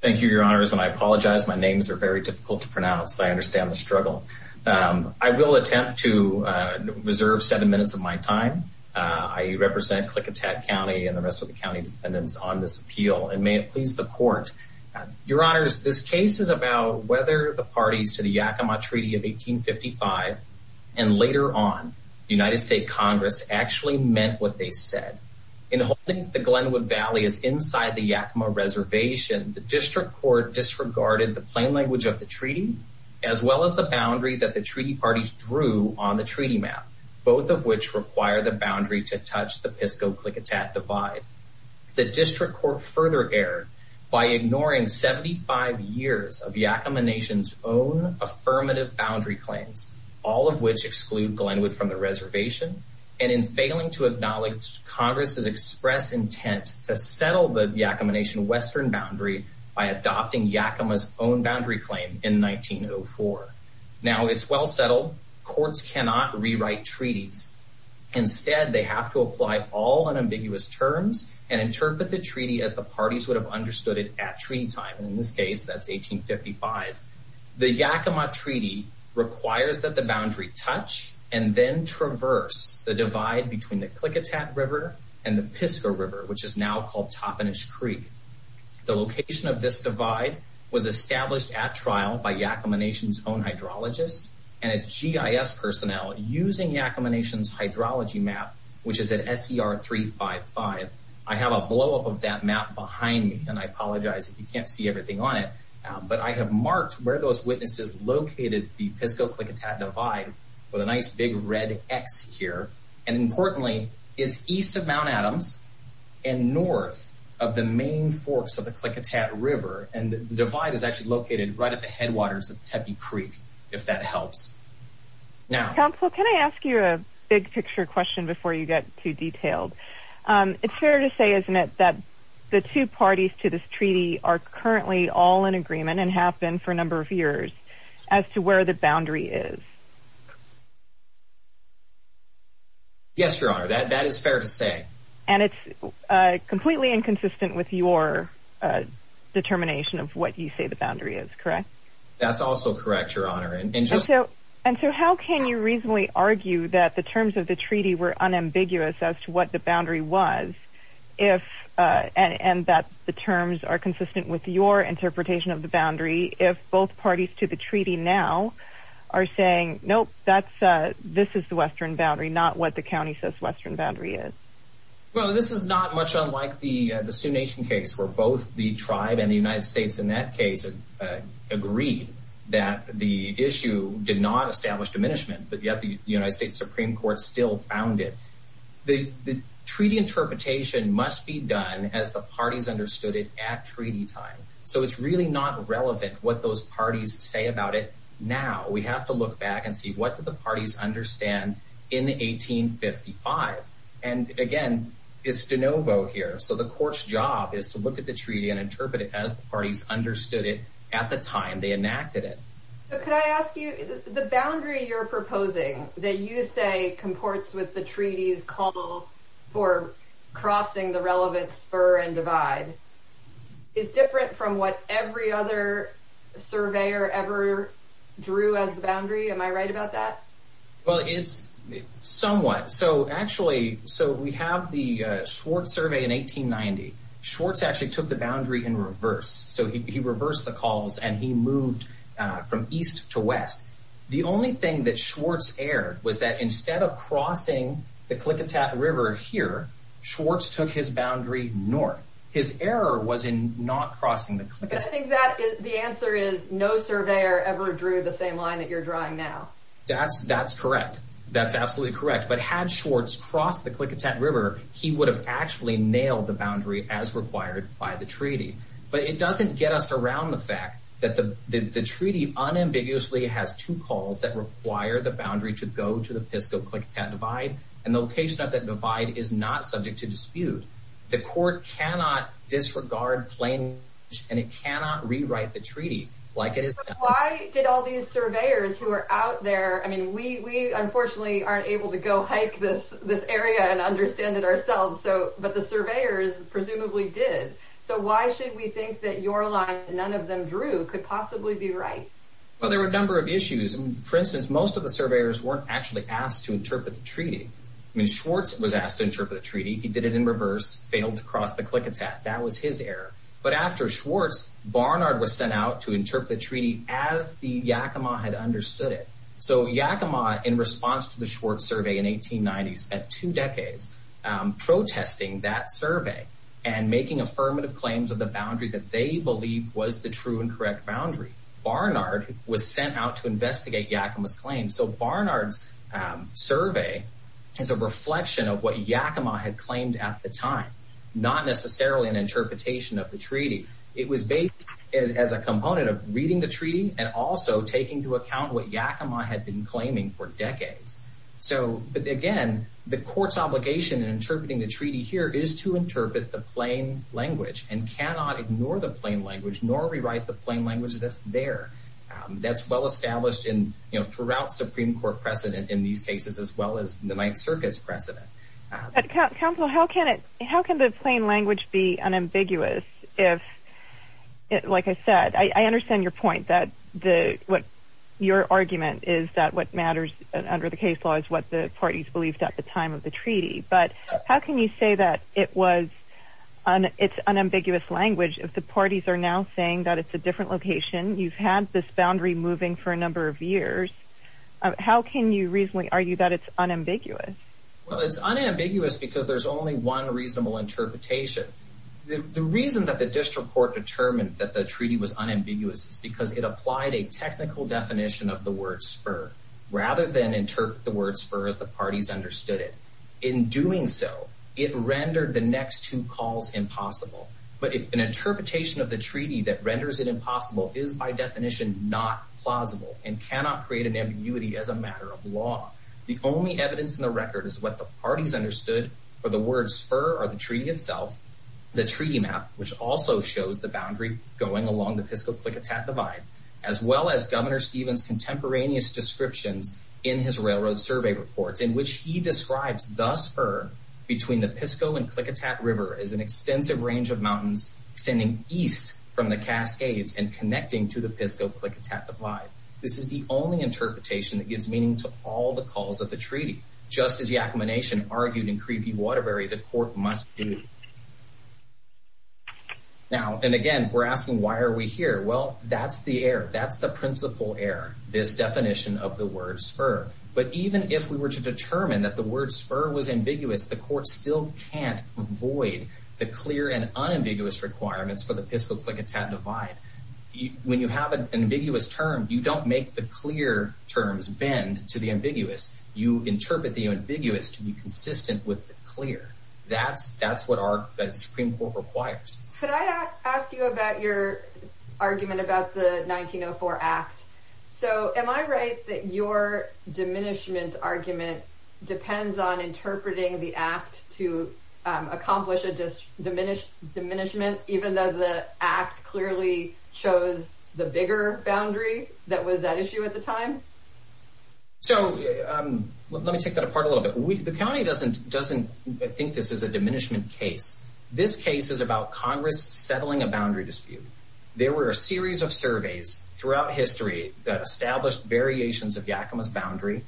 Thank you, Your Honors, and I apologize. My names are very difficult to pronounce. I understand the struggle. I will attempt to reserve seven minutes of my time. I represent Klickitat County and the rest of the county defendants on this appeal, and may it please the Court. Your Honors, this case is about whether the parties to the Yakama Treaty of 1855, and later on, the United States Congress, actually meant what they said. In holding the Glenwood Valley as inside the Yakama Reservation, the District Court disregarded the plain language of the treaty, as well as the boundary that the treaty parties drew on the treaty map, both of which require the boundary to touch the Pisco-Klickitat Divide. The District Court further erred by ignoring 75 years of Yakama Nation's own affirmative boundary claims, all of which exclude Glenwood from the reservation, and in failing to acknowledge Congress's express intent to settle the Yakama Nation western boundary by adopting Yakama's own boundary claim in 1904. Now, it's well settled. Courts cannot rewrite treaties. Instead, they have to apply all unambiguous terms and interpret the treaty as the parties would have understood it at treaty time. In this case, that's 1855. The Yakama Treaty requires that the boundary touch, and then traverse, the divide between the Klickitat River and the Pisco River, which is now called Toppenish Creek. The location of this divide was established at trial by Yakama Nation's own hydrologist and a GIS personnel using Yakama Nation's hydrology map, which is at SER 355. I have a blowup of that map behind me, and I apologize if you can't see everything on it, but I have marked where those witnesses located the Pisco-Klickitat Divide with a nice big red X here, and importantly, it's east of Mount Adams and north of the main forks of the Klickitat River, and the divide is actually located right at the headwaters of Tepe Creek, if that helps. Counsel, can I ask you a big picture question before you get too detailed? It's fair to say, isn't it, that the two parties to this treaty are currently all in agreement and have been for a number of years as to where the boundary is? Yes, Your Honor, that is fair to say. And it's completely inconsistent with your determination of what you say the boundary is, correct? That's also correct, Your Honor. And so how can you reasonably argue that the terms of the treaty were unambiguous as to what the boundary was, and that the terms are consistent with your interpretation of the boundary, if both parties to the treaty now are saying, nope, this is the western boundary, not what the county says the western boundary is? Well, this is not much unlike the Sioux Nation case, where both the tribe and the United States in that case agreed that the issue did not establish diminishment, but yet the United States Supreme Court still found it. The treaty interpretation must be done as the parties understood it at treaty time, so it's really not relevant what those parties say about it now. We have to look back and see, what did the parties understand in 1855? And again, it's de novo here, so the court's job is to look at the treaty and interpret it as the parties understood it at the time they enacted it. Could I ask you, the boundary you're proposing, that you say comports with the treaty's call for crossing the relevant spur and divide, is different from what every other surveyor ever drew as the boundary? Am I right about that? Well, it is somewhat. So we have the Schwartz survey in 1890. Schwartz actually took the boundary in reverse, so he reversed the calls and he moved from east to west. The only thing that Schwartz erred was that instead of crossing the Klickitat River here, Schwartz took his boundary north. His error was in not crossing the Klickitat. I think the answer is no surveyor ever drew the same line that you're drawing now. That's correct. That's absolutely correct. But had Schwartz crossed the Klickitat River, he would have actually nailed the boundary as required by the treaty. But it doesn't get us around the fact that the treaty unambiguously has two calls that require the boundary to go to the Pisco-Klickitat divide, and the location of that divide is not subject to dispute. The court cannot disregard plain language, and it cannot rewrite the treaty like it is done. Why did all these surveyors who are out there—I mean, we unfortunately aren't able to go hike this area and understand it ourselves, but the surveyors presumably did. So why should we think that your line that none of them drew could possibly be right? Well, there were a number of issues. For instance, most of the surveyors weren't actually asked to interpret the treaty. I mean, Schwartz was asked to interpret the treaty. He did it in reverse, failed to cross the Klickitat. That was his error. But after Schwartz, Barnard was sent out to interpret the treaty as the Yakima had understood it. So Yakima, in response to the Schwartz survey in 1890, spent two decades protesting that survey and making affirmative claims of the boundary that they believed was the true and correct boundary. Barnard was sent out to investigate Yakima's claims. So Barnard's survey is a reflection of what Yakima had claimed at the time, not necessarily an interpretation of the treaty. It was based as a component of reading the treaty and also taking into account what Yakima had been claiming for decades. But, again, the court's obligation in interpreting the treaty here is to interpret the plain language and cannot ignore the plain language nor rewrite the plain language that's there. That's well established throughout Supreme Court precedent in these cases as well as the Ninth Circuit's precedent. Counsel, how can the plain language be unambiguous if, like I said, I understand your point that your argument is that what matters under the case law is what the parties believed at the time of the treaty. But how can you say that it's unambiguous language if the parties are now saying that it's a different location? You've had this boundary moving for a number of years. How can you reasonably argue that it's unambiguous? Well, it's unambiguous because there's only one reasonable interpretation. The reason that the district court determined that the treaty was unambiguous is because it applied a technical definition of the word spur rather than interpret the word spur as the parties understood it. In doing so, it rendered the next two calls impossible. But if an interpretation of the treaty that renders it impossible is by definition not plausible and cannot create an ambiguity as a matter of law, the only evidence in the record is what the parties understood for the word spur or the treaty itself. The treaty map, which also shows the boundary going along the Pisco-Klickitat Divide, as well as Governor Stevens' contemporaneous descriptions in his railroad survey reports in which he describes the spur between the Pisco and Klickitat River as an extensive range of mountains extending east from the Cascades and connecting to the Pisco-Klickitat Divide. This is the only interpretation that gives meaning to all the calls of the treaty. Just as Yakama Nation argued in Cree v. Waterbury, the court must do. Now, and again, we're asking, why are we here? Well, that's the error. That's the principal error, this definition of the word spur. But even if we were to determine that the word spur was ambiguous, the court still can't avoid the clear and unambiguous requirements for the Pisco-Klickitat Divide. When you have an ambiguous term, you don't make the clear terms bend to the ambiguous. You interpret the ambiguous to be consistent with the clear. That's what our Supreme Court requires. Could I ask you about your argument about the 1904 Act? So am I right that your diminishment argument depends on interpreting the Act to accomplish a diminishment, even though the Act clearly shows the bigger boundary that was at issue at the time? So let me take that apart a little bit. The county doesn't think this is a diminishment case. This case is about Congress settling a boundary dispute. There were a series of surveys throughout history that established variations of Yakama's boundary.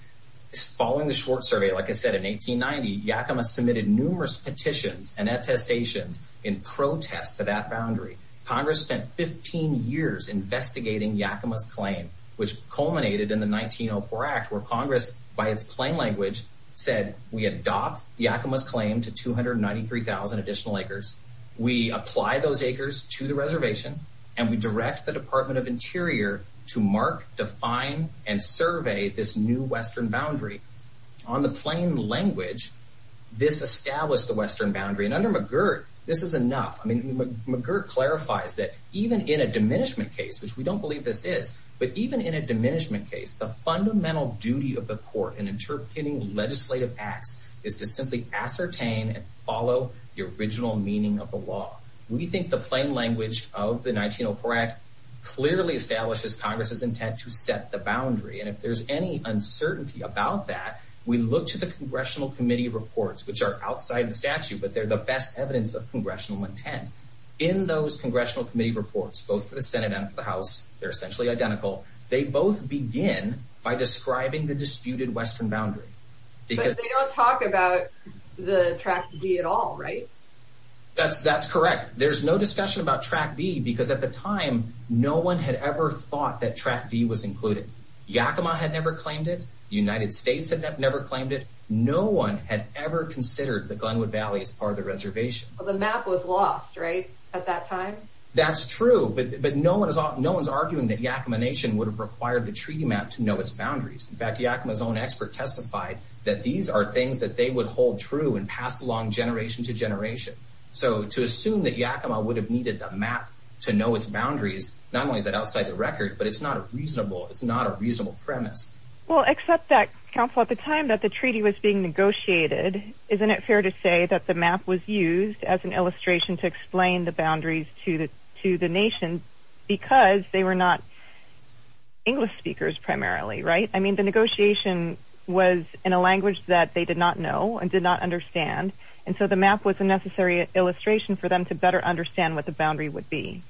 Following the Schwartz survey, like I said, in 1890, Yakama submitted numerous petitions and attestations in protest to that boundary. Congress spent 15 years investigating Yakama's claim, which culminated in the 1904 Act, where Congress, by its plain language, said, We adopt Yakama's claim to 293,000 additional acres. We apply those acres to the reservation. And we direct the Department of Interior to mark, define, and survey this new western boundary. On the plain language, this established a western boundary. And under McGirt, this is enough. McGirt clarifies that even in a diminishment case, which we don't believe this is, but even in a diminishment case, the fundamental duty of the court in interpreting legislative acts is to simply ascertain and follow the original meaning of the law. We think the plain language of the 1904 Act clearly establishes Congress's intent to set the boundary. And if there's any uncertainty about that, we look to the Congressional Committee reports, which are outside the statute, but they're the best evidence of Congressional intent. In those Congressional Committee reports, both for the Senate and for the House, they're essentially identical, they both begin by describing the disputed western boundary. But they don't talk about the Track D at all, right? That's correct. There's no discussion about Track D, because at the time, no one had ever thought that Track D was included. Yakima had never claimed it. The United States had never claimed it. No one had ever considered the Glenwood Valley as part of the reservation. The map was lost, right, at that time? That's true, but no one's arguing that Yakima Nation would have required the treaty map to know its boundaries. In fact, Yakima's own expert testified that these are things that they would hold true and pass along generation to generation. So to assume that Yakima would have needed the map to know its boundaries, not only is that outside the record, but it's not a reasonable premise. Well, except that, counsel, at the time that the treaty was being negotiated, isn't it fair to say that the map was used as an illustration to explain the boundaries to the nation because they were not English speakers primarily, right? I mean, the negotiation was in a language that they did not know and did not understand, and so the map was a necessary illustration for them to better understand what the boundary would be.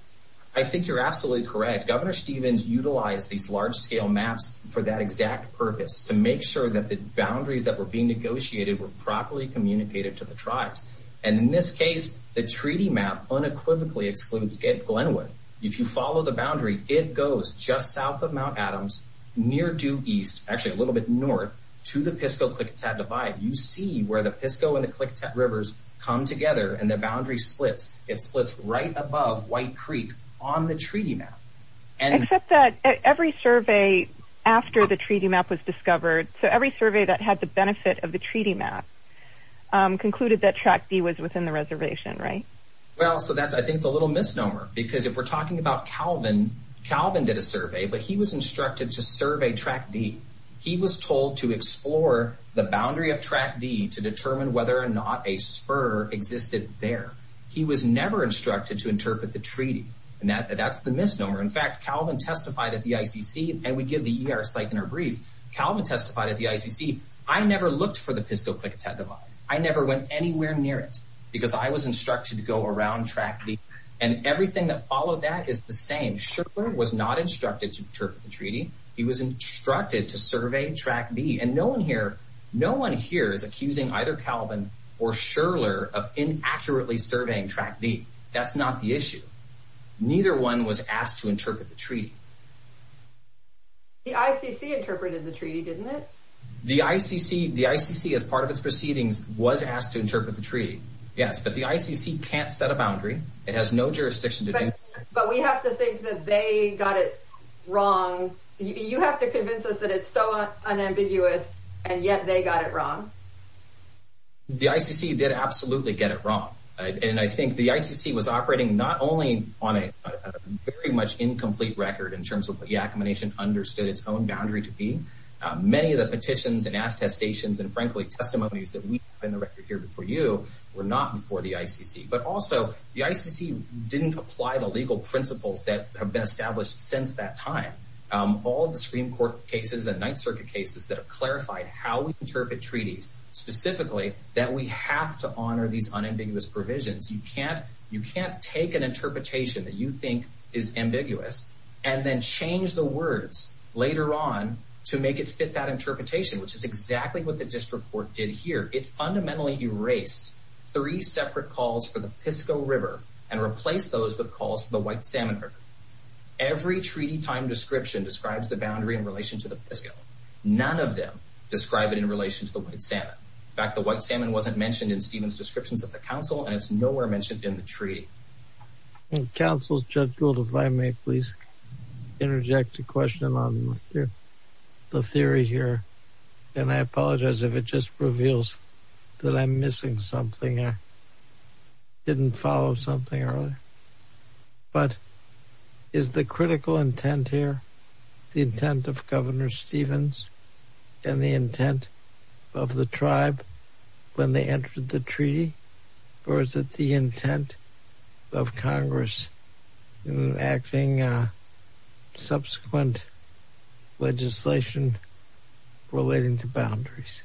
I think you're absolutely correct. Governor Stevens utilized these large-scale maps for that exact purpose, to make sure that the boundaries that were being negotiated were properly communicated to the tribes. And in this case, the treaty map unequivocally excludes Glenwood. If you follow the boundary, it goes just south of Mount Adams, near due east, actually a little bit north, to the Pisco-Klickitat Divide. You see where the Pisco and the Klickitat Rivers come together and the boundary splits. It splits right above White Creek on the treaty map. Except that every survey after the treaty map was discovered, so every survey that had the benefit of the treaty map, concluded that Track D was within the reservation, right? Well, so I think that's a little misnomer because if we're talking about Calvin, Calvin did a survey, but he was instructed to survey Track D. He was told to explore the boundary of Track D to determine whether or not a spur existed there. He was never instructed to interpret the treaty, and that's the misnomer. In fact, Calvin testified at the ICC, and we give the ER site in our brief. Calvin testified at the ICC. I never looked for the Pisco-Klickitat Divide. I never went anywhere near it because I was instructed to go around Track D. And everything that followed that is the same. Sherler was not instructed to interpret the treaty. He was instructed to survey Track D. And no one here is accusing either Calvin or Sherler of inaccurately surveying Track D. That's not the issue. Neither one was asked to interpret the treaty. The ICC interpreted the treaty, didn't it? The ICC, as part of its proceedings, was asked to interpret the treaty, yes. But the ICC can't set a boundary. It has no jurisdiction to do that. But we have to think that they got it wrong. You have to convince us that it's so unambiguous, and yet they got it wrong. The ICC did absolutely get it wrong. And I think the ICC was operating not only on a very much incomplete record in terms of what the Accommodation understood its own boundary to be. Many of the petitions and ask testations and, frankly, testimonies that we have in the record here before you were not before the ICC. But also, the ICC didn't apply the legal principles that have been established since that time. All the Supreme Court cases and Ninth Circuit cases that have clarified how we interpret treaties, specifically that we have to honor these unambiguous provisions. You can't take an interpretation that you think is ambiguous and then change the words later on to make it fit that interpretation, which is exactly what the district court did here. It fundamentally erased three separate calls for the Pisco River and replaced those with calls for the White Salmon River. Every treaty time description describes the boundary in relation to the Pisco. None of them describe it in relation to the White Salmon. In fact, the White Salmon wasn't mentioned in Stephen's descriptions of the council, and it's nowhere mentioned in the treaty. Counsel, Judge Gould, if I may please interject a question on the theory here. And I apologize if it just reveals that I'm missing something. I didn't follow something earlier. But is the critical intent here the intent of Governor Stevens and the intent of the tribe when they entered the treaty? Or is it the intent of Congress in acting subsequent legislation relating to boundaries?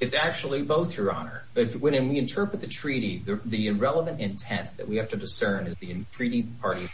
It's actually both, Your Honor. When we interpret the treaty, the relevant intent that we have to discern is the treaty party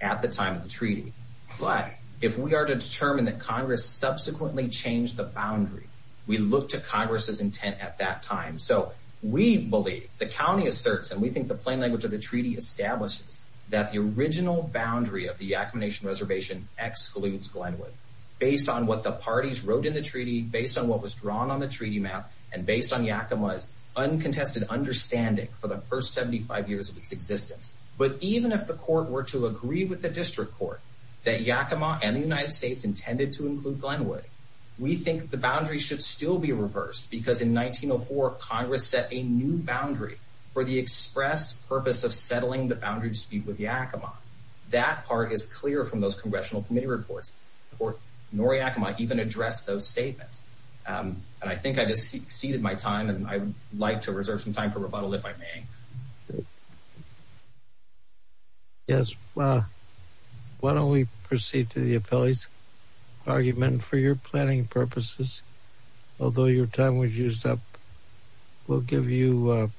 at the time of the treaty. But if we are to determine that Congress subsequently changed the boundary, we look to Congress's intent at that time. So we believe, the county asserts, and we think the plain language of the treaty establishes that the original boundary of the Yakama Nation Reservation excludes Glenwood based on what the parties wrote in the treaty, based on what was drawn on the treaty map, and based on Yakama's uncontested understanding for the first 75 years of its existence. But even if the court were to agree with the district court that Yakama and the United States intended to include Glenwood, we think the boundary should still be reversed because in 1904 Congress set a new boundary for the express purpose of settling the boundary dispute with Yakama. That part is clear from those congressional committee reports. The court nor Yakama even addressed those statements. And I think I just exceeded my time, and I would like to reserve some time for rebuttal if I may. Yes, why don't we proceed to the appellee's argument for your planning purposes. Although your time was used up, we'll give you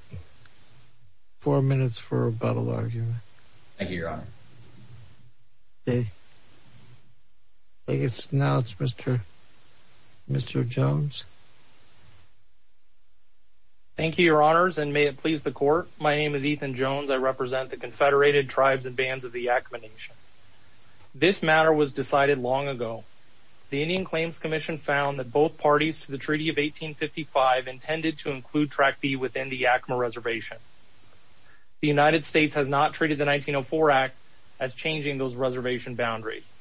four minutes for a rebuttal argument. Thank you, Your Honor. Okay. I guess now it's Mr. Jones. Thank you, Your Honors, and may it please the court. My name is Ethan Jones. I represent the Confederated Tribes and Bands of the Yakama Nation. This matter was decided long ago. The Indian Claims Commission found that both parties to the Treaty of 1855 intended to include Track B within the Yakama Reservation. The United States has not treated the 1904 Act as changing those reservation boundaries.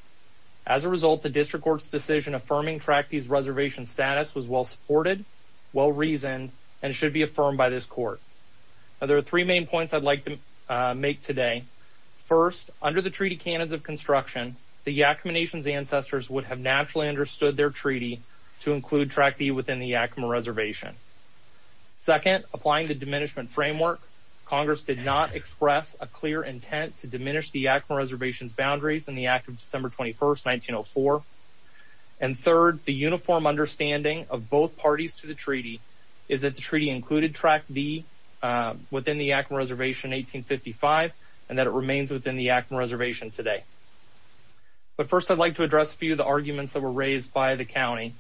As a result, the district court's decision affirming Track B's reservation status was well-supported, well-reasoned, and should be affirmed by this court. There are three main points I'd like to make today. First, under the Treaty Canons of Construction, the Yakama Nation's ancestors would have naturally understood their treaty to include Track B within the Yakama Reservation. Second, applying the Diminishment Framework, Congress did not express a clear intent to diminish the Yakama Reservation's boundaries in the Act of December 21, 1904. And third, the uniform understanding of both parties to the treaty is that the treaty included Track B within the Yakama Reservation in 1855 and that it remains within the Yakama Reservation today. But first, I'd like to address a few of the arguments that were raised by the county.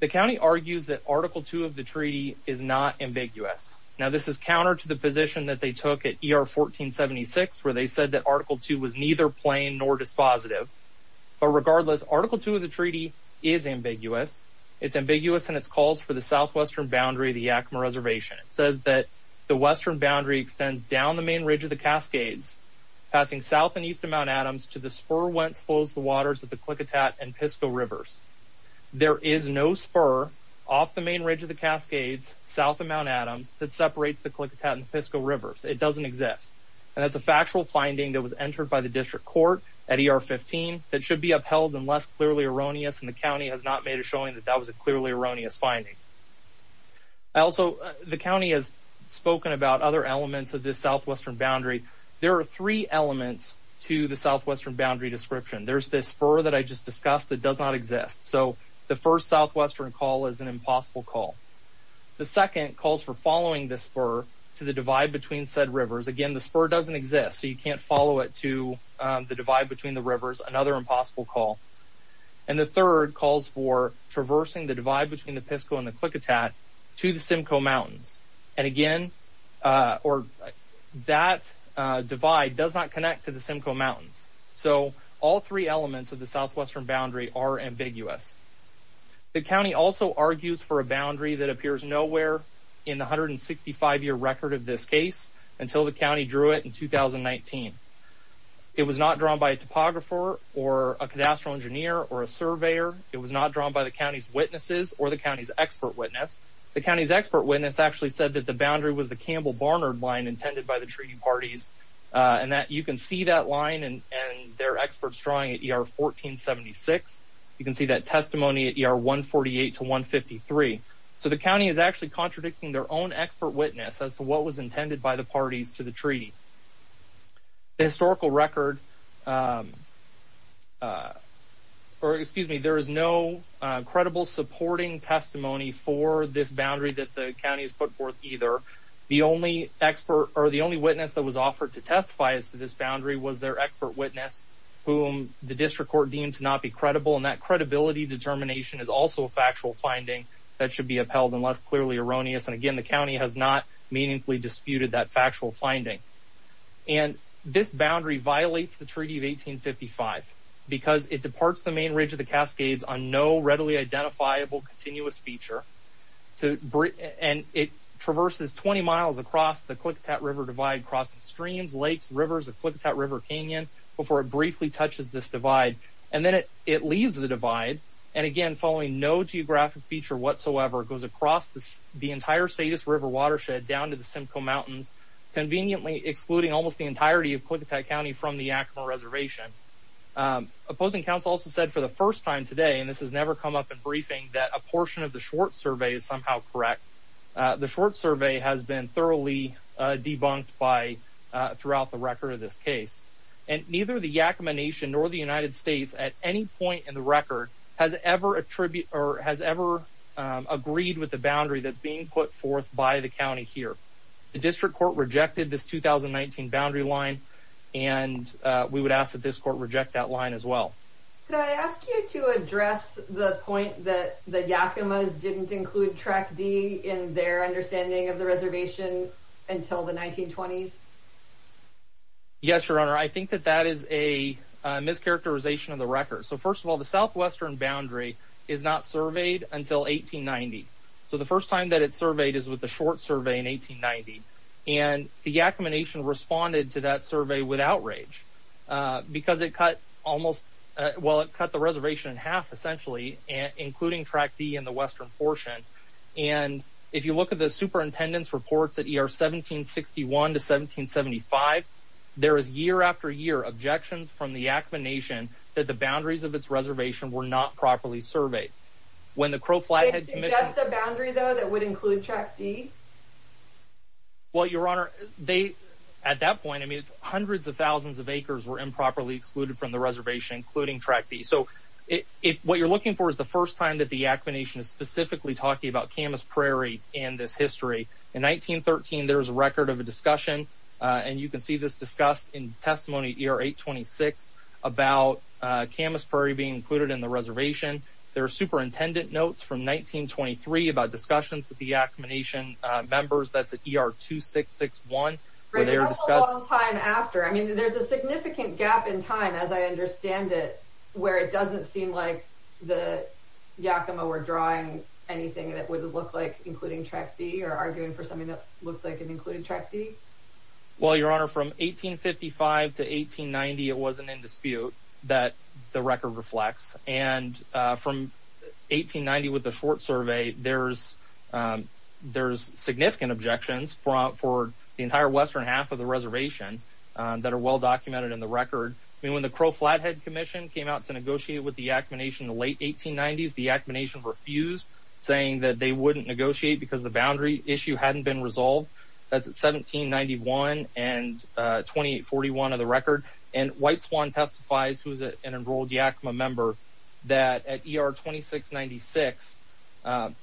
The county argues that Article II of the treaty is not ambiguous. Now, this is counter to the position that they took at ER 1476, where they said that Article II was neither plain nor dispositive. But regardless, Article II of the treaty is ambiguous. It's ambiguous in its calls for the southwestern boundary of the Yakama Reservation. It says that the western boundary extends down the main ridge of the Cascades, passing south and east of Mount Adams, to the spur whence flows the waters of the Klickitat and Pisco Rivers. There is no spur off the main ridge of the Cascades, south of Mount Adams, that separates the Klickitat and Pisco Rivers. It doesn't exist. And that's a factual finding that was entered by the district court at ER 15 that should be upheld unless clearly erroneous, and the county has not made a showing that that was a clearly erroneous finding. Also, the county has spoken about other elements of this southwestern boundary. There are three elements to the southwestern boundary description. There's this spur that I just discussed that does not exist. So the first southwestern call is an impossible call. The second calls for following the spur to the divide between said rivers. Again, the spur doesn't exist, so you can't follow it to the divide between the rivers. Another impossible call. And the third calls for traversing the divide between the Pisco and the Klickitat to the Simcoe Mountains. And again, that divide does not connect to the Simcoe Mountains. So all three elements of the southwestern boundary are ambiguous. The county also argues for a boundary that appears nowhere in the 165-year record of this case until the county drew it in 2019. It was not drawn by a topographer or a cadastral engineer or a surveyor. It was not drawn by the county's witnesses or the county's expert witness. The county's expert witness actually said that the boundary was the Campbell-Barnard line intended by the treaty parties, and that you can see that line and their experts drawing at ER 1476. You can see that testimony at ER 148 to 153. So the county is actually contradicting their own expert witness as to what was intended by the parties to the treaty. The historical record, or excuse me, there is no credible supporting testimony for this boundary that the county has put forth either. The only witness that was offered to testify as to this boundary was their expert witness, whom the district court deemed to not be credible, and that credibility determination is also a factual finding that should be upheld unless clearly erroneous. And again, the county has not meaningfully disputed that factual finding. And this boundary violates the Treaty of 1855 because it departs the main ridge of the Cascades on no readily identifiable continuous feature, and it traverses 20 miles across the Klickitat River Divide crossing streams, lakes, rivers, the Klickitat River Canyon before it briefly touches this divide. And then it leaves the divide. And again, following no geographic feature whatsoever, it goes across the entire Status River watershed down to the Simcoe Mountains, conveniently excluding almost the entirety of Klickitat County from the Yakima Reservation. Opposing counsel also said for the first time today, and this has never come up in briefing, that a portion of the Schwartz survey is somehow correct. The Schwartz survey has been thoroughly debunked throughout the record of this case. And neither the Yakima Nation nor the United States at any point in the record has ever agreed with the boundary that's being put forth by the county here. The district court rejected this 2019 boundary line, and we would ask that this court reject that line as well. Could I ask you to address the point that the Yakimas didn't include Track D in their understanding of the reservation until the 1920s? Yes, Your Honor. I think that that is a mischaracterization of the record. So first of all, the southwestern boundary is not surveyed until 1890. So the first time that it's surveyed is with the Schwartz survey in 1890. And the Yakima Nation responded to that survey with outrage because it cut the reservation in half, essentially, including Track D in the western portion. And if you look at the superintendent's reports at ER 1761 to 1775, there is year after year objections from the Yakima Nation that the boundaries of its reservation were not properly surveyed. When the Crow Flathead Commission... Did it suggest a boundary, though, that would include Track D? Well, Your Honor, at that point, I mean, hundreds of thousands of acres were improperly excluded from the reservation, including Track D. So what you're looking for is the first time that the Yakima Nation is specifically talking about Camas Prairie and this history. In 1913, there was a record of a discussion, and you can see this discussed in testimony at ER 826, about Camas Prairie being included in the reservation. There are superintendent notes from 1923 about discussions with the Yakima Nation members. That's at ER 2661, where they were discussing... Right, but that's a long time after. I mean, there's a significant gap in time, as I understand it, where it doesn't seem like the Yakima were drawing anything that would look like including Track D or arguing for something that looked like including Track D. Well, Your Honor, from 1855 to 1890, it wasn't in dispute that the record reflects. And from 1890, with the short survey, there's significant objections for the entire western half of the reservation that are well documented in the record. I mean, when the Crow Flathead Commission came out to negotiate with the Yakima Nation in the late 1890s, the Yakima Nation refused, saying that they wouldn't negotiate because the boundary issue hadn't been resolved. That's at 1791 and 2841 of the record. And White Swan testifies, who is an enrolled Yakima member, that at ER 2696, that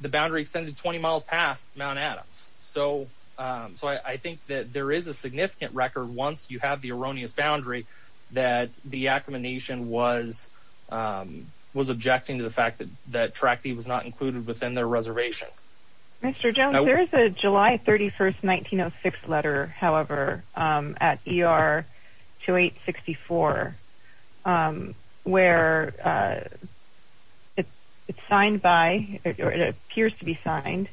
the boundary extended 20 miles past Mount Adams. So I think that there is a significant record once you have the erroneous boundary that the Yakima Nation was objecting to the fact that Track D was not included within their reservation. Mr. Jones, there is a July 31, 1906 letter, however, at ER 2864, where it's signed by, or it appears to be signed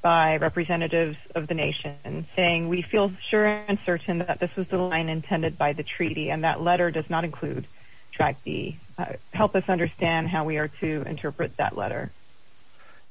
by representatives of the nation, saying, we feel sure and certain that this is the line intended by the treaty, and that letter does not include Track D. Help us understand how we are to interpret that letter.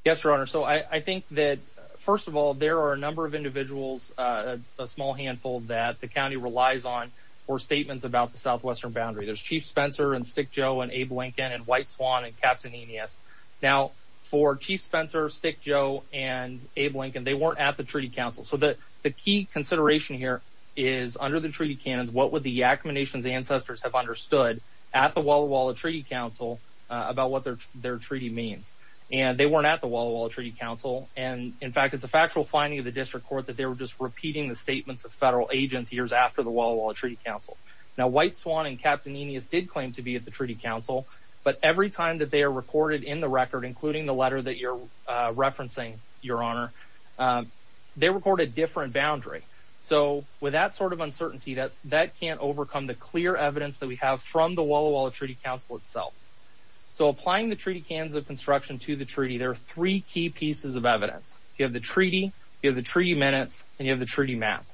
Yes, Your Honor, so I think that, first of all, there are a number of individuals, a small handful, that the county relies on for statements about the southwestern boundary. There's Chief Spencer and Stick Joe and Abe Lincoln and White Swan and Captain Enius. Now, for Chief Spencer, Stick Joe, and Abe Lincoln, they weren't at the treaty council. So the key consideration here is, under the treaty canons, what would the Yakima Nation's ancestors have understood at the Walla Walla Treaty Council about what their treaty means? And they weren't at the Walla Walla Treaty Council, and, in fact, it's a factual finding of the district court that they were just repeating the statements of federal agents years after the Walla Walla Treaty Council. Now, White Swan and Captain Enius did claim to be at the treaty council, but every time that they are recorded in the record, including the letter that you're referencing, Your Honor, they record a different boundary. So with that sort of uncertainty, that can't overcome the clear evidence that we have from the Walla Walla Treaty Council itself. So applying the treaty canons of construction to the treaty, there are three key pieces of evidence. You have the treaty, you have the treaty minutes, and you have the treaty map.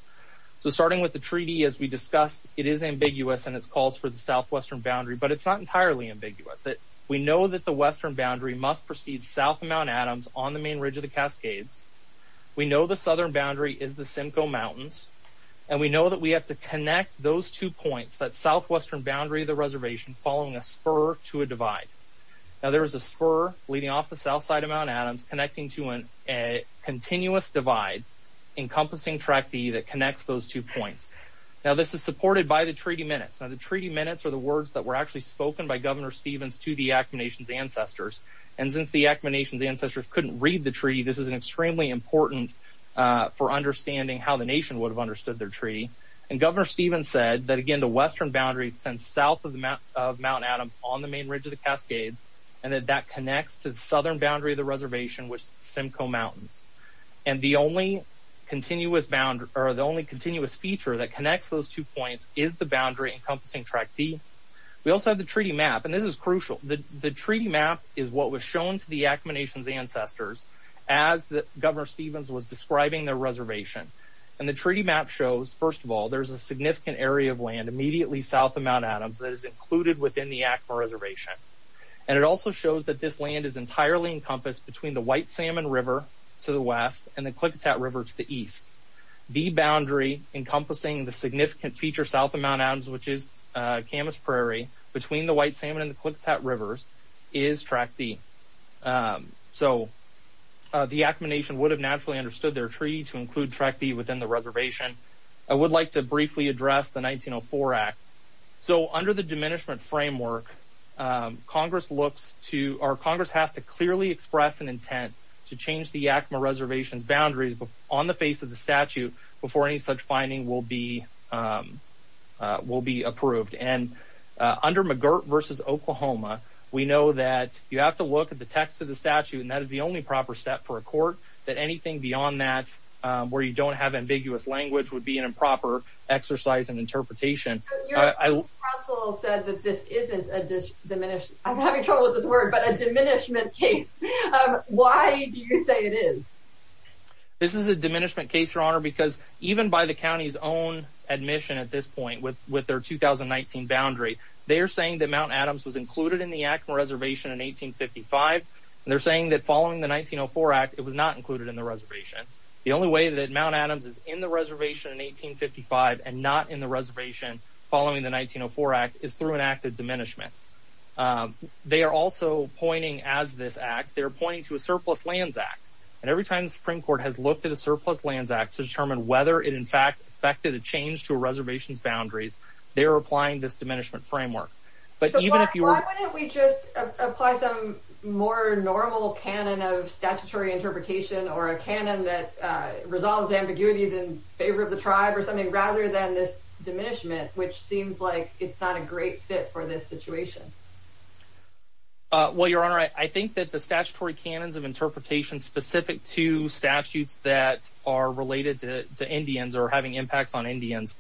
So starting with the treaty, as we discussed, it is ambiguous in its calls for the southwestern boundary, but it's not entirely ambiguous. We know that the western boundary must precede south of Mount Adams on the main ridge of the Cascades. We know the southern boundary is the Simcoe Mountains. And we know that we have to connect those two points, that southwestern boundary of the reservation, following a spur to a divide. Now, there is a spur leading off the south side of Mount Adams connecting to a continuous divide encompassing Track D that connects those two points. Now, this is supported by the treaty minutes. Now, the treaty minutes are the words that were actually spoken by Governor Stevens to the Acoma Nation's ancestors. And since the Acoma Nation's ancestors couldn't read the treaty, this is extremely important for understanding how the nation would have understood their treaty. And Governor Stevens said that, again, the western boundary extends south of Mount Adams on the main ridge of the Cascades, and that that connects to the southern boundary of the reservation, which is the Simcoe Mountains. And the only continuous feature that connects those two points is the boundary encompassing Track D. We also have the treaty map, and this is crucial. The treaty map is what was shown to the Acoma Nation's ancestors as Governor Stevens was describing their reservation. And the treaty map shows, first of all, there's a significant area of land immediately south of Mount Adams that is included within the Acoma Reservation. And it also shows that this land is entirely encompassed between the White Salmon River to the west and the Klickitat River to the east. The boundary encompassing the significant feature south of Mount Adams, which is Camas Prairie, between the White Salmon and the Klickitat Rivers, is Track D. So the Acoma Nation would have naturally understood their treaty to include Track D within the reservation. I would like to briefly address the 1904 Act. So under the Diminishment Framework, Congress has to clearly express an intent to change the Acoma Reservation's boundaries on the face of the statute before any such finding will be approved. And under McGirt v. Oklahoma, we know that you have to look at the text of the statute, and that is the only proper step for a court, that anything beyond that where you don't have ambiguous language would be an improper exercise in interpretation. Your counsel said that this isn't a... I'm having trouble with this word, but a diminishment case. Why do you say it is? This is a diminishment case, Your Honor, because even by the county's own admission at this point with their 2019 boundary, they are saying that Mount Adams was included in the Acoma Reservation in 1855, and they're saying that following the 1904 Act, it was not included in the reservation. The only way that Mount Adams is in the reservation in 1855 and not in the reservation following the 1904 Act is through an act of diminishment. They are also pointing, as this act, they are pointing to a Surplus Lands Act. And every time the Supreme Court has looked at a Surplus Lands Act to determine whether it, in fact, affected a change to a reservation's boundaries, they are applying this diminishment framework. So why wouldn't we just apply some more normal canon of statutory interpretation or a canon that resolves ambiguities in favor of the tribe or something rather than this diminishment, which seems like it's not a great fit for this situation? Well, Your Honor, I think that the statutory canons of interpretation specific to statutes that are related to Indians or having impacts on Indians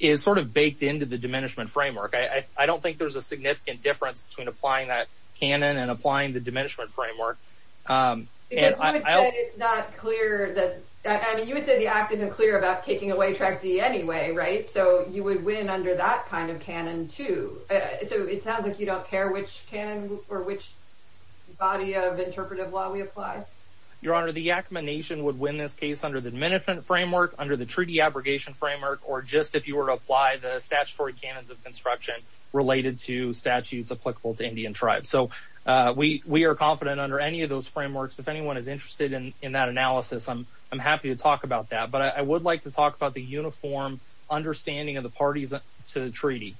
is sort of baked into the diminishment framework. I don't think there's a significant difference between applying that canon and applying the diminishment framework. Because you would say it's not clear that, I mean, you would say the act isn't clear about taking away Tribe D anyway, right? So you would win under that kind of canon, too. So it sounds like you don't care which canon or which body of interpretive law we apply. Your Honor, the Yakama Nation would win this case under the diminishment framework, under the treaty abrogation framework, or just if you were to apply the statutory canons of construction related to statutes applicable to Indian tribes. So we are confident under any of those frameworks. If anyone is interested in that analysis, I'm happy to talk about that. But I would like to talk about the uniform understanding of the parties to the treaty.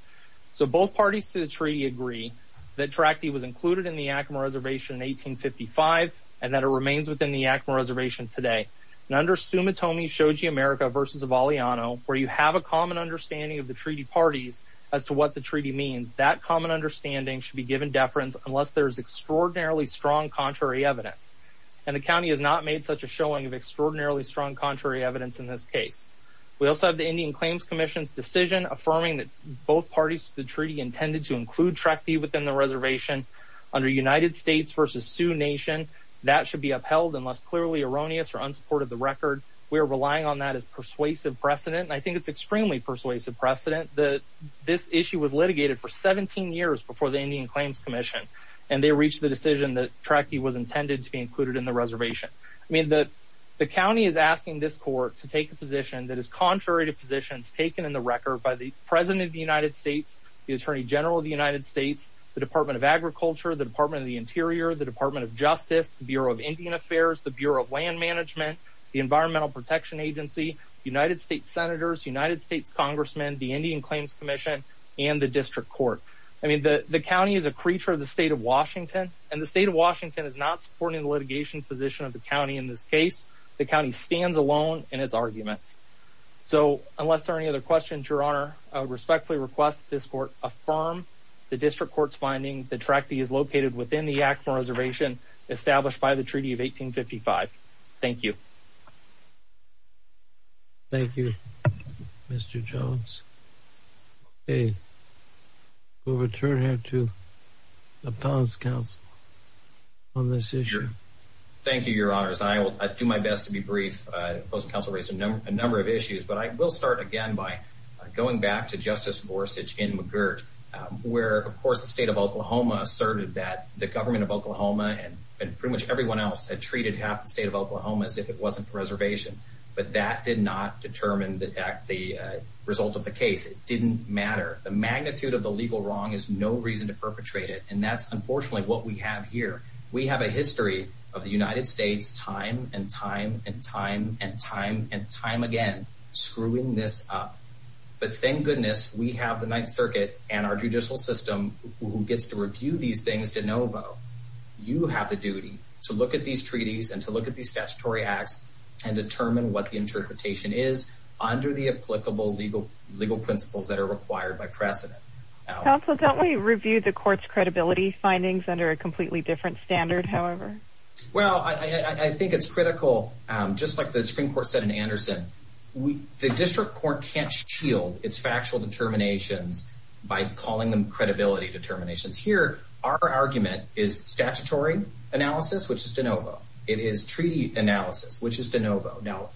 So both parties to the treaty agree that Tribe D was included in the Yakama Reservation in 1855 and that it remains within the Yakama Reservation today. And under Sumitomi Shoji America v. Avalliano, where you have a common understanding of the treaty parties as to what the treaty means, that common understanding should be given deference unless there is extraordinarily strong contrary evidence. And the county has not made such a showing of extraordinarily strong contrary evidence in this case. We also have the Indian Claims Commission's decision affirming that both parties to the treaty intended to include Tribe D within the reservation. Under United States v. Sioux Nation, that should be upheld unless clearly erroneous or unsupported the record. We are relying on that as persuasive precedent, and I think it's extremely persuasive precedent that this issue was litigated for 17 years before the Indian Claims Commission, and they reached the decision that Tribe D was intended to be included in the reservation. I mean, the county is asking this court to take a position that is contrary to positions taken in the record by the President of the United States, the Attorney General of the United States, the Department of Agriculture, the Department of the Interior, the Department of Justice, the Bureau of Indian Affairs, the Bureau of Land Management, the Environmental Protection Agency, United States Senators, United States Congressmen, the Indian Claims Commission, and the District Court. I mean, the county is a creature of the state of Washington, and the state of Washington is not supporting the litigation position of the county in this case. The county stands alone in its arguments. So, unless there are any other questions, Your Honor, I would respectfully request that this court affirm the District Court's finding that Tribe D is located within the Yakima Reservation established by the Treaty of 1855. Thank you. Thank you, Mr. Jones. Okay. We'll return here to the Palace Council on this issue. Thank you, Your Honors. I will do my best to be brief. The opposing counsel raised a number of issues, but I will start again by going back to Justice Gorsuch in McGirt, where, of course, the state of Oklahoma asserted that the government of Oklahoma and pretty much everyone else had treated half the state of Oklahoma as if it wasn't a reservation. But that did not determine the result of the case. It didn't matter. The magnitude of the legal wrong is no reason to perpetrate it, and that's, unfortunately, what we have here. We have a history of the United States time and time and time and time and time again screwing this up. But thank goodness we have the Ninth Circuit and our judicial system who gets to review these things de novo. You have the duty to look at these treaties and to look at these statutory acts and determine what the interpretation is under the applicable legal principles that are required by precedent. Counsel, don't we review the court's credibility findings under a completely different standard, however? Well, I think it's critical. Just like the Supreme Court said in Anderson, the district court can't shield its factual determinations by calling them credibility determinations. Here, our argument is statutory analysis, which is de novo. It is treaty analysis, which is de novo. Now,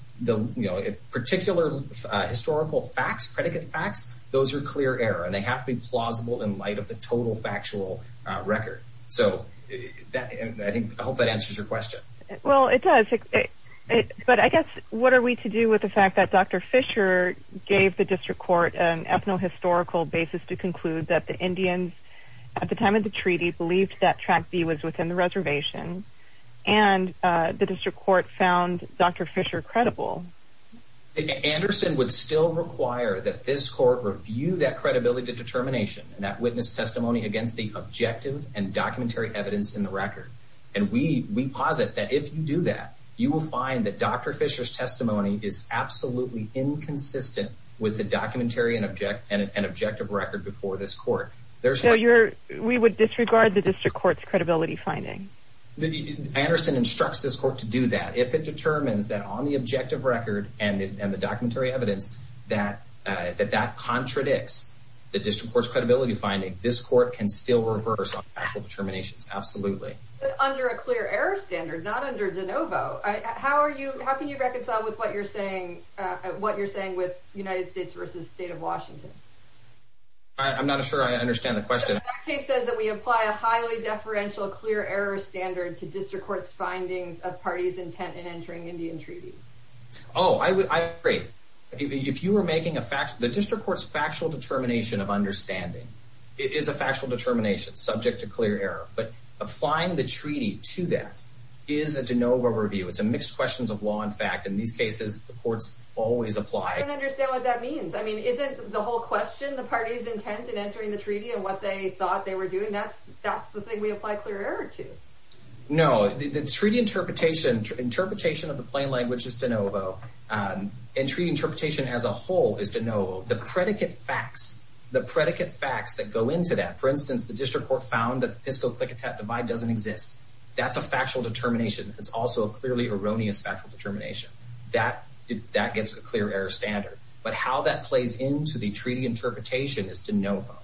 particular historical facts, predicate facts, those are clear error, and they have to be plausible in light of the total factual record. I hope that answers your question. Well, it does. But I guess what are we to do with the fact that Dr. Fisher gave the district court an ethno-historical basis to conclude that the Indians at the time of the treaty believed that Track B was within the reservation and the district court found Dr. Fisher credible? Anderson would still require that this court review that credibility determination and that witness testimony against the objective and documentary evidence in the record. And we posit that if you do that, you will find that Dr. Fisher's testimony is absolutely inconsistent with the documentary and objective record before this court. So we would disregard the district court's credibility finding? Anderson instructs this court to do that if it determines that on the objective record and the documentary evidence that that contradicts the district court's credibility finding, this court can still reverse factual determinations. Absolutely. But under a clear error standard, not under de novo. How can you reconcile with what you're saying with United States v. State of Washington? I'm not sure I understand the question. That case says that we apply a highly deferential, clear error standard to district court's findings of parties intent in entering Indian treaties. Oh, I agree. The district court's factual determination of understanding is a factual determination subject to clear error. But applying the treaty to that is a de novo review. It's a mixed questions of law and fact. In these cases, the courts always apply... I don't understand what that means. I mean, isn't the whole question, the parties intent in entering the treaty and what they thought they were doing, that's the thing we apply clear error to? No. The treaty interpretation of the plain language is de novo. And treaty interpretation as a whole is de novo. The predicate facts, the predicate facts that go into that, for instance, the district court found that the Pisco-Klickitat divide doesn't exist. That's a factual determination. It's also a clearly erroneous factual determination. That gets a clear error standard. But how that plays into the treaty interpretation is de novo.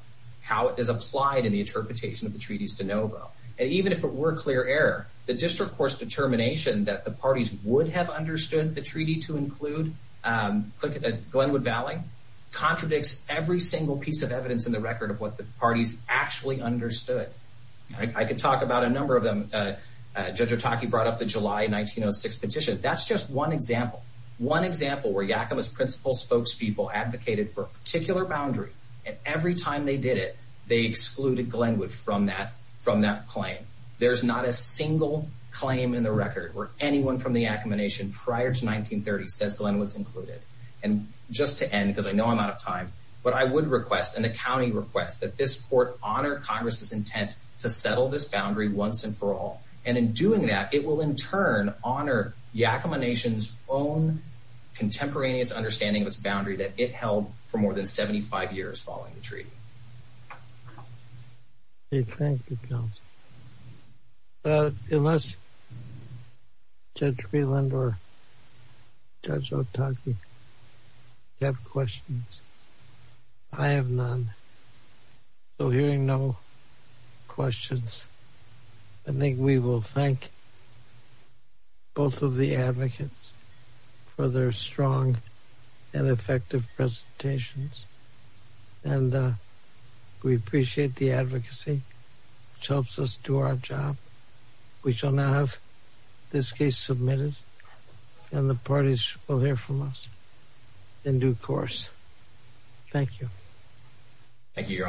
How it is applied in the interpretation of the treaty is de novo. And even if it were clear error, the district court's determination that the parties would have understood the treaty to include Glenwood Valley contradicts every single piece of evidence in the record of what the parties actually understood. I can talk about a number of them. Judge Otake brought up the July 1906 petition. That's just one example, one example where Yakima's principal spokespeople advocated for a particular boundary, and every time they did it, they excluded Glenwood from that claim. There's not a single claim in the record where anyone from the Yakima Nation prior to 1930 says Glenwood's included. And just to end, because I know I'm out of time, what I would request, and the county requests, that this court honor Congress's intent to settle this boundary once and for all. And in doing that, it will in turn honor Yakima Nation's own contemporaneous understanding of its boundary that it held for more than 75 years following the treaty. Thank you, Counsel. Unless Judge Freeland or Judge Otake have questions, I have none. So hearing no questions, I think we will thank both of the advocates for their strong and effective presentations. And we appreciate the advocacy, which helps us do our job. We shall now have this case submitted, and the parties will hear from us in due course. Thank you. Thank you, Your Honors.